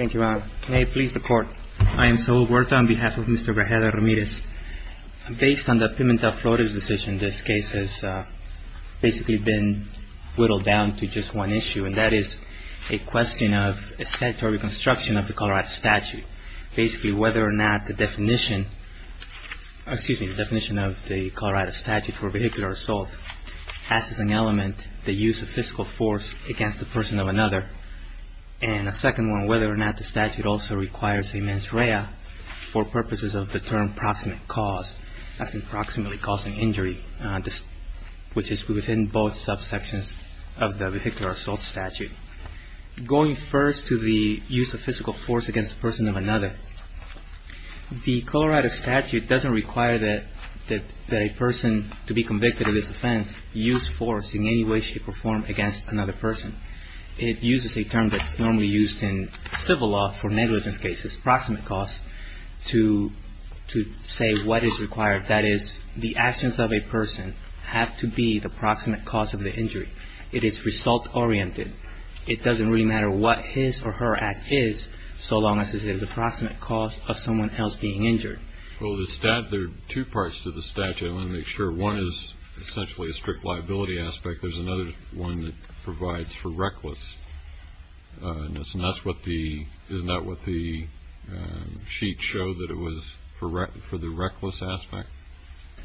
I am Saul Huerta on behalf of Mr. Grajeda-Ramirez. Based on the Pimentel-Flores decision, this case has basically been whittled down to just one issue, and that is a question of statutory construction of the Colorado statute. Basically, whether or not the definition of the Colorado statute for vehicular assault has as an element the use of physical force against the person of another, and a second one whether or not the statute also requires a mens rea for purposes of the term proximate cause, as in proximately causing injury, which is within both subsections of the vehicular assault statute. Going first to the use of physical force against the person of another, the Colorado statute doesn't require that a person to be convicted of this offense use force in any way, shape, or form against another person. It uses a term that's normally used in civil law for negligence cases, proximate cause, to say what is required. That is, the actions of a person have to be the proximate cause of the injury. It is result oriented. It doesn't really matter what his or her act is so long as it is the proximate cause of someone else being injured. Well, the statute, there are two parts to the statute. I want to make sure. One is essentially a strict liability aspect. There's another one that provides for recklessness, and that's what the, isn't that what the sheet showed that it was for the reckless aspect?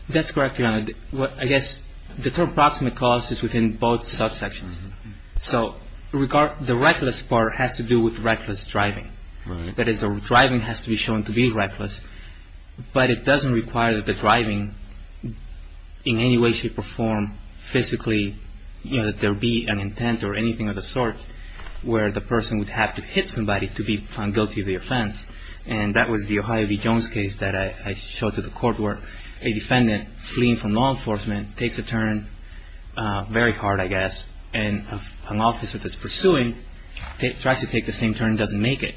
That's correct, Your Honor. I guess the term proximate cause is within both subsections. So the reckless part has to do with reckless driving. Right. That is, the driving has to be shown to be reckless, but it doesn't require that the driving in any way, shape, or form physically, you know, that there be an intent or anything of the sort where the person would have to hit somebody to be found guilty of the offense. And that was the Ohio v. Jones case that I showed to the court where a defendant fleeing from law enforcement takes a turn very hard, I guess, and an officer that's pursuing tries to take the same turn and doesn't make it.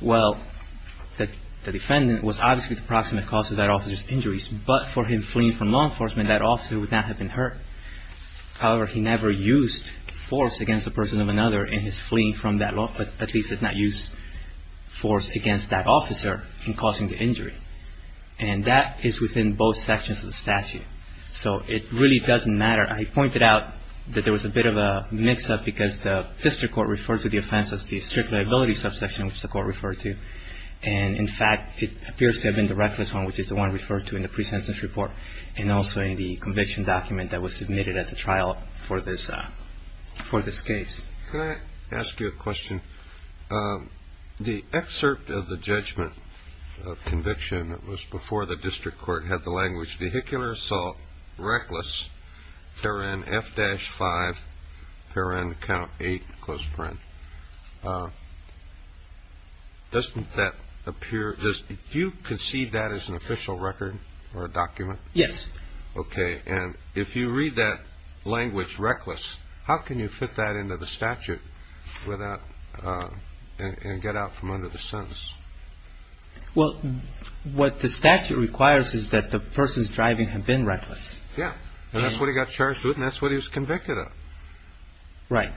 Well, the defendant was obviously the proximate cause of that officer's injuries, but for him fleeing from law enforcement, that officer would not have been hurt. However, he never used force against the person of another in his fleeing from that law, but at least did not use force against that officer in causing the injury. And that is within both sections of the statute. So it really doesn't matter. I pointed out that there was a bit of a mix-up because the district liability subsection, which the court referred to, and in fact, it appears to have been the reckless one, which is the one referred to in the pre-sentence report and also in the conviction document that was submitted at the trial for this case. Can I ask you a question? The excerpt of the judgment of conviction that was before the statute, doesn't that appear, do you concede that as an official record or a document? Yes. Okay. And if you read that language, reckless, how can you fit that into the statute without, and get out from under the sentence? Well, what the statute requires is that the person's driving had been reckless. Yeah. And that's what he got charged with and that's what he was convicted of. Right.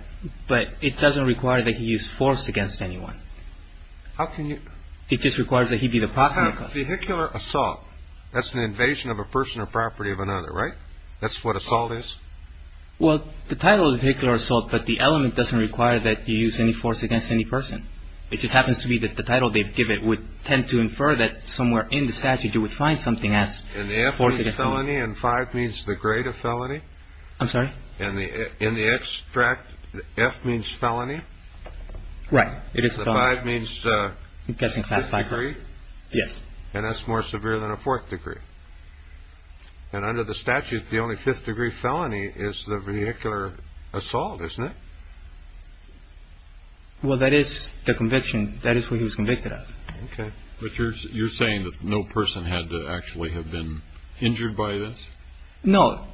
But it doesn't require that he used force against anyone. How can you? It just requires that he be the proxy. The Hickler assault, that's an invasion of a person or property of another, right? That's what assault is? Well, the title of Hickler assault, but the element doesn't require that you use any force against any person. It just happens to be that the title they give it would tend to infer that somewhere in the statute you would find something as force against someone. And the F is felony and five means the grade of felony. I'm sorry. And the, in the extract F means felony. Right. It is a five means a degree. Yes. And that's more severe than a fourth degree. And under the statute, the only fifth degree felony is the vehicular assault, isn't it? Well, that is the conviction. That is what he was convicted of. Okay. But you're, you're saying that no person had to actually have been injured by this? No.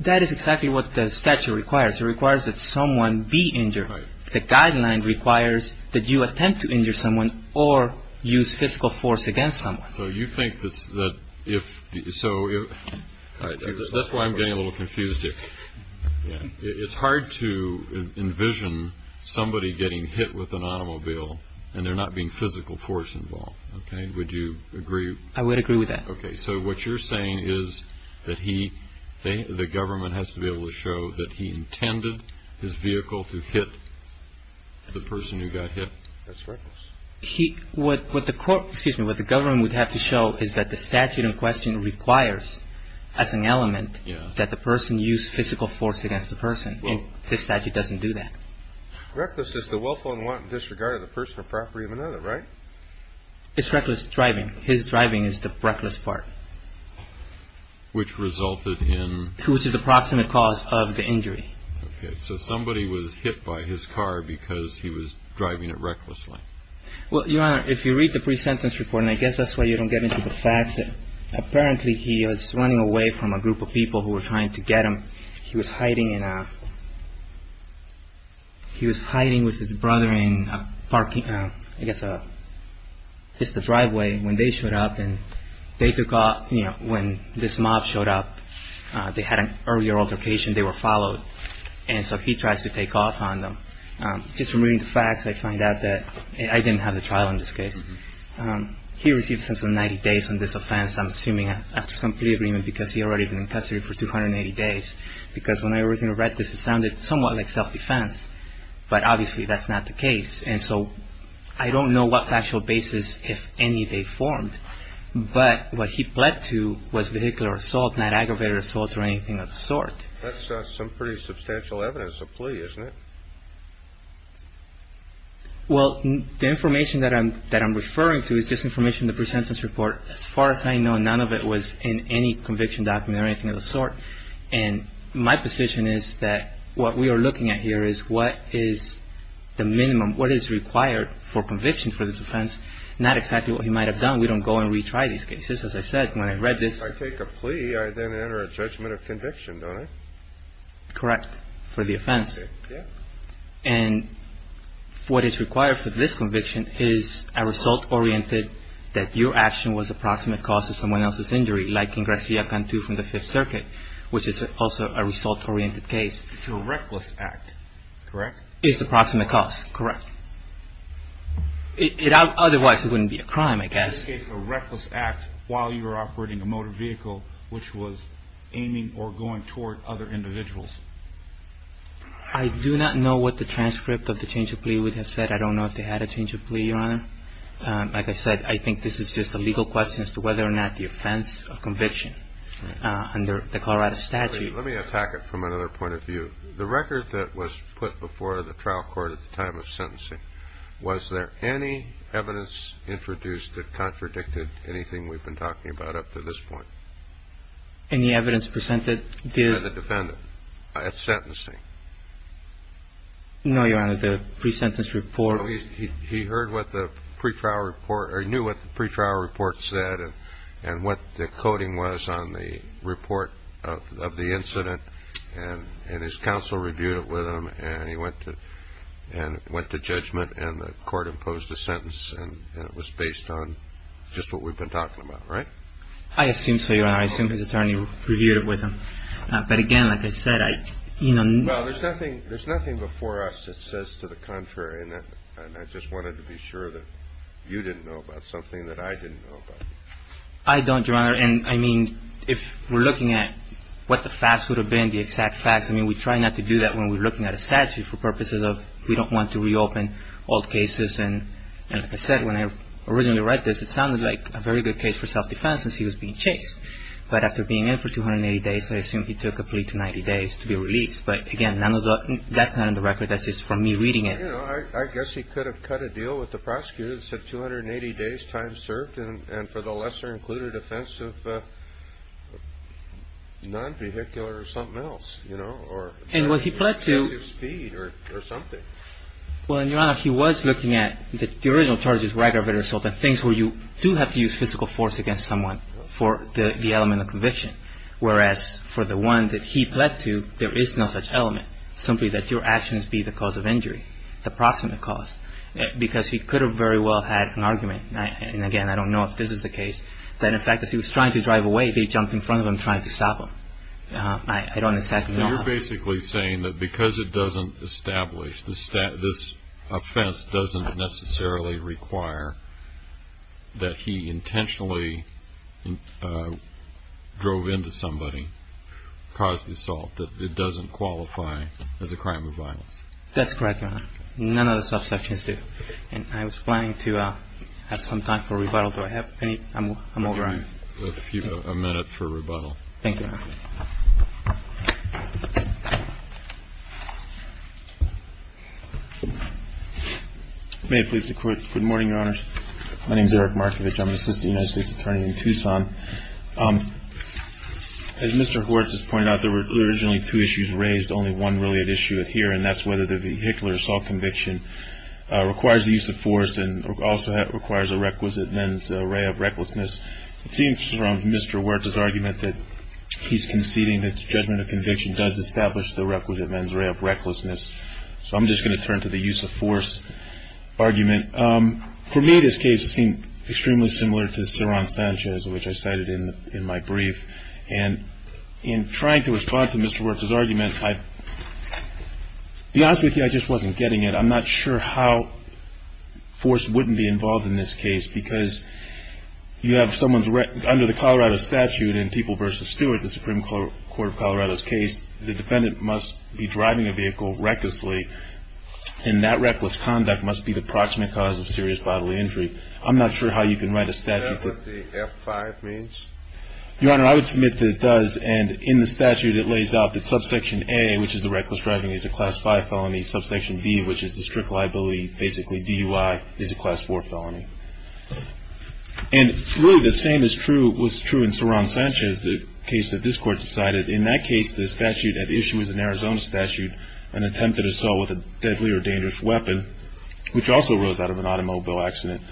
That is exactly what the statute requires. It requires that someone be injured. Right. The guideline requires that you attempt to injure someone or use physical force against someone. So you think that if, so that's why I'm getting a little confused here. It's hard to envision somebody getting hit with an automobile and there not being physical force involved. Okay. Would you agree? I would agree with that. Okay. So what you're saying is that he, the government has to be able to show that he intended his vehicle to hit the person who got hit. That's right. He, what, what the court, excuse me, what the government would have to show is that the statute in question requires as an element that the person use physical force against the person. This statute doesn't do that. Reckless is the willful and wanton driving. His driving is the reckless part. Which resulted in? Which is the proximate cause of the injury. Okay. So somebody was hit by his car because he was driving it recklessly. Well, Your Honor, if you read the pre-sentence report, and I guess that's why you don't get into the facts, apparently he was running away from a group of people who were trying to get him. He was hiding in a, he was hiding with his brother in a parking, I guess, just a driveway when they showed up and they took off, you know, when this mob showed up, they had an earlier altercation, they were followed. And so he tries to take off on them. Just from reading the facts, I find out that I didn't have the trial in this case. He received a sentence of 90 days on this offense, I'm assuming after some plea agreement because he had already been in custody for 280 days. Because when I originally read this, it sounded somewhat like self-defense. But obviously that's not the case. And so I don't know what actual basis, if any, they formed. But what he pled to was vehicular assault, not aggravated assault or anything of the sort. That's some pretty substantial evidence of plea, isn't it? Well, the information that I'm referring to is just information in the pre-sentence report. As far as I know, none of it was in any conviction document or anything of the sort. And my position is that what we are looking at here is what is the minimum, what is required for conviction for this offense, not exactly what he might have done. We don't go and retry these cases. As I said, when I read this. If I take a plea, I then enter a judgment of conviction, don't I? Correct. For the offense. And what is required for this conviction is a result-oriented, that your action was a proximate cause to someone else's injury, like in Garcia-Pantu from the Fifth Circuit, which is also a result-oriented case. To a reckless act, correct? Is the proximate cause, correct. Otherwise, it wouldn't be a crime, I guess. In this case, a reckless act while you were operating a motor vehicle which was aiming or going toward other individuals. I do not know what the transcript of the change of plea would have said. I don't know if they had a change of plea, Your Honor. Like I said, I think this is just a legal question as to whether or not the offense of conviction under the Colorado statute. Let me attack it from another point of view. The record that was put before the trial court at the time of sentencing, was there any evidence introduced that contradicted anything we've been talking about up to this point? Any evidence presented by the defendant at sentencing? No, Your Honor. The pre-sentence report. So he heard what the pre-trial report or knew what the pre-trial report said and what the coding was on the report of the incident and his counsel reviewed it with him and he went to judgment and the court imposed a sentence and it was based on just what we've been talking about, right? I assume so, Your Honor. I assume his attorney reviewed it with him. But again, like I said, I, you know... Well, there's nothing before us that says to the contrary and I just wanted to be sure that you didn't know about something that I didn't know about. I don't, Your Honor, and I mean, if we're looking at what the facts would have been, the exact facts, I mean, we try not to do that when we're looking at a statute for purposes of we don't want to reopen old cases and like I said, when I originally read this, it sounded like a very good case for self-defense since he was being chased. But after being in for 280 days, I assume he took a plea to 90 days to be released. But again, none of that's on the record. That's just from me reading it. You know, I guess he could have cut a deal with the prosecutors at 280 days' time served and for the lesser included offense of non-vehicular or something else, you know, or... And what he pled to... Excessive speed or something. Well, and Your Honor, he was looking at the original charges of aggravated assault and things where you do have to use physical force against someone for the element of conviction, whereas for the one that he pled to, there is no such element, simply that your actions be the cause of injury, the proximate cause, because he could have very well had an argument, and again, I don't know if this is the case, that in fact, as he was trying to drive away, they jumped in front of him trying to stop him. I don't exactly know how. You're basically saying that because it doesn't establish, this offense doesn't necessarily require that he intentionally drove into somebody, caused the assault, that it doesn't qualify as a crime of violence. That's correct, Your Honor. None of the subsections do. And I was planning to have some time for rebuttal. Do I have any? I'm overrun. We'll give you a minute for rebuttal. Thank you, Your Honor. May it please the Court. Good morning, Your Honors. My name is Eric Markovich. I'm an assistant United States attorney in Tucson. As Mr. Hort just pointed out, there were originally two issues raised, only one really at issue here, and that's whether the Hickler assault conviction requires the use of force and also requires a requisite men's array of recklessness. It seems from Mr. Huerta's argument that he's conceding that the judgment of conviction does establish the requisite men's array of recklessness. So I'm just going to turn to the use of force argument. For me, this case seemed extremely similar to Sir Ron Sanchez, which I cited in my brief. And in trying to respond to Mr. Huerta's argument, I'd be honest with you, I just wasn't getting it. I'm not sure how force wouldn't be involved in this case, because you have someone's under the Colorado statute in People v. Stewart, the Supreme Court of Colorado's case, the defendant must be driving a vehicle recklessly, and that reckless conduct must be the proximate cause of serious bodily injury. I'm not sure how you can write a statute that the F-5 means. Your Honor, I would submit that it does. And in the statute, it lays out that subsection A, which is the reckless driving, is a Class 5 felony. Subsection B, which is the strict liability, basically DUI, is a Class 4 felony. And really the same is true, was true in Sir Ron Sanchez, the case that this Court decided. In that case, the statute at issue is an Arizona statute, an attempted assault with a deadly or dangerous weapon, which also rose out of an automobile accident.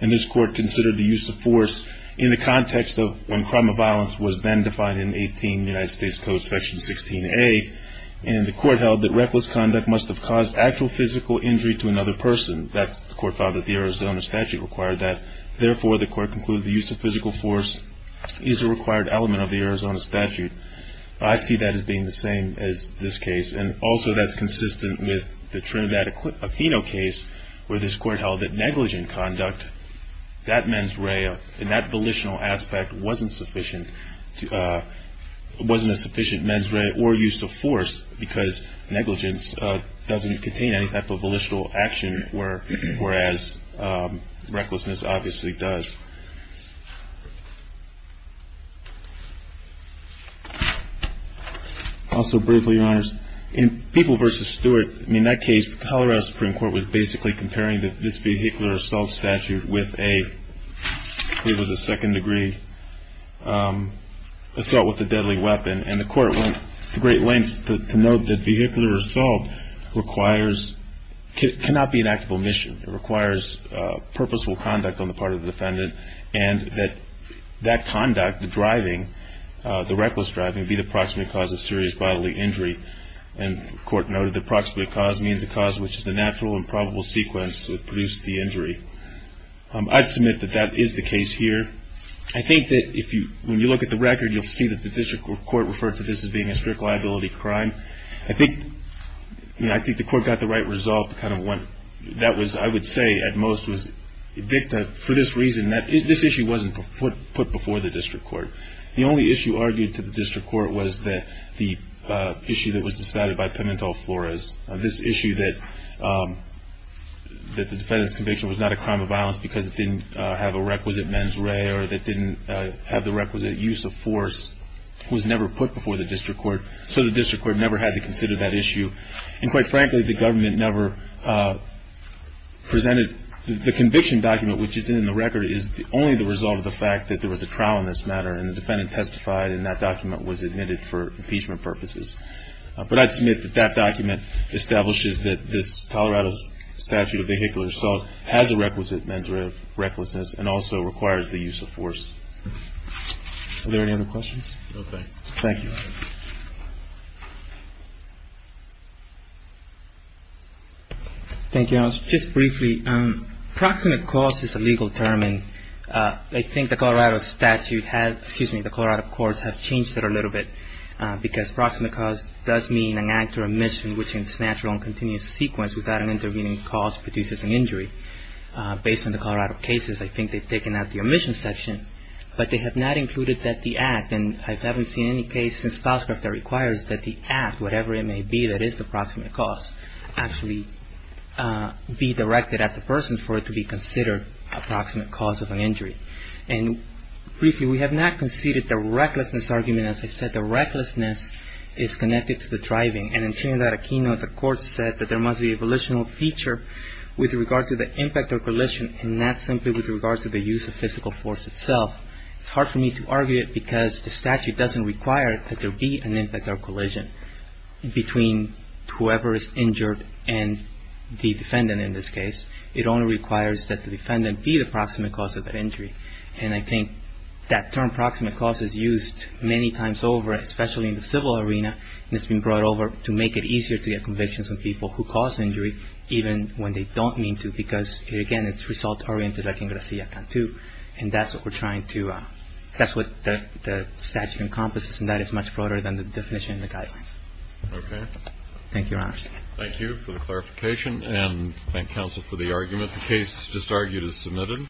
And this Court considered the use of force in the context of when crime of violence was then defined in 18 United States Code Section 16A. And the Court held that reckless conduct must have caused actual physical injury to another person. That's the Court found that the Arizona statute required that. Therefore, the Court concluded the use of physical force is a required element of the Arizona statute. I see that as being the same as this case. And also, that's consistent with the Trinidad Aquino case, where this Court held that negligent conduct, that mens rea and that volitional aspect wasn't sufficient, wasn't a sufficient mens rea or use of force because negligence doesn't contain any type of volitional action, whereas recklessness obviously does. Also, briefly, Your Honors, in People v. Stewart, in that case, Colorado Supreme Court was basically comparing this vehicular assault statute with a, what was a second-degree assault with a deadly weapon. And the Court went to great lengths to note that vehicular assault requires cannot be an act of omission. It requires purposeful conduct on the part of the defendant and that that conduct, the driving, the reckless driving, be the proximate cause of serious bodily injury. And the Court noted the proximate cause means a cause which is the natural and probable sequence that produced the injury. I'd submit that that is the case here. I think that if you, when you look at the record, you'll see that the District Court referred to this as being a strict liability crime. I think, you know, I think the Court got the right resolve, kind of went, that was, I would say at most was, Victor, for this reason, this issue wasn't put before the District Court. The only issue argued to the District Court was that the issue that was decided by Pimentel-Flores, this issue that the defendant's conviction was not a crime of violence because it didn't have a requisite mens rea or it didn't have the requisite use of force, was that the District Court never had to consider that issue. And quite frankly, the government never presented the conviction document, which is in the record, is only the result of the fact that there was a trial in this matter and the defendant testified and that document was admitted for impeachment purposes. But I'd submit that that document establishes that this Colorado statute of vehicular assault has a requisite mens rea recklessness and also requires the use of force. Are there any other questions? Okay. Thank you. Thank you, Your Honor. Just briefly, proximate cause is a legal term and I think the Colorado statute has, excuse me, the Colorado courts have changed it a little bit because proximate cause does mean an act or omission which in its natural and continuous sequence without an intervening cause produces an injury. Based on the Colorado cases, I think they've taken out the omission section, but they have not included that the act, and I haven't seen any case in spouse that requires that the act, whatever it may be that is the proximate cause, actually be directed at the person for it to be considered a proximate cause of an injury. And briefly, we have not conceded the recklessness argument. As I said, the recklessness is connected to the driving. And in turn, in that keynote, the court said that there must be a volitional feature with regard to the impact or collision and not simply with regard to the use of physical force itself. It's hard for me to argue it because the statute doesn't require that there be an impact or collision between whoever is injured and the defendant in this case. It only requires that the defendant be the proximate cause of that injury. And I think that term proximate cause is used many times over, especially in the civil arena, and it's been brought over to make it easier to get convictions on people who cause injury even when they don't mean to because, again, it's result-oriented, like in Gracia Cantu, and that's what we're trying to – that's what the statute encompasses, and that is much broader than the definition of the guidelines. Okay. Thank you, Your Honors. Thank you for the clarification, and thank counsel for the argument. The case just argued is submitted.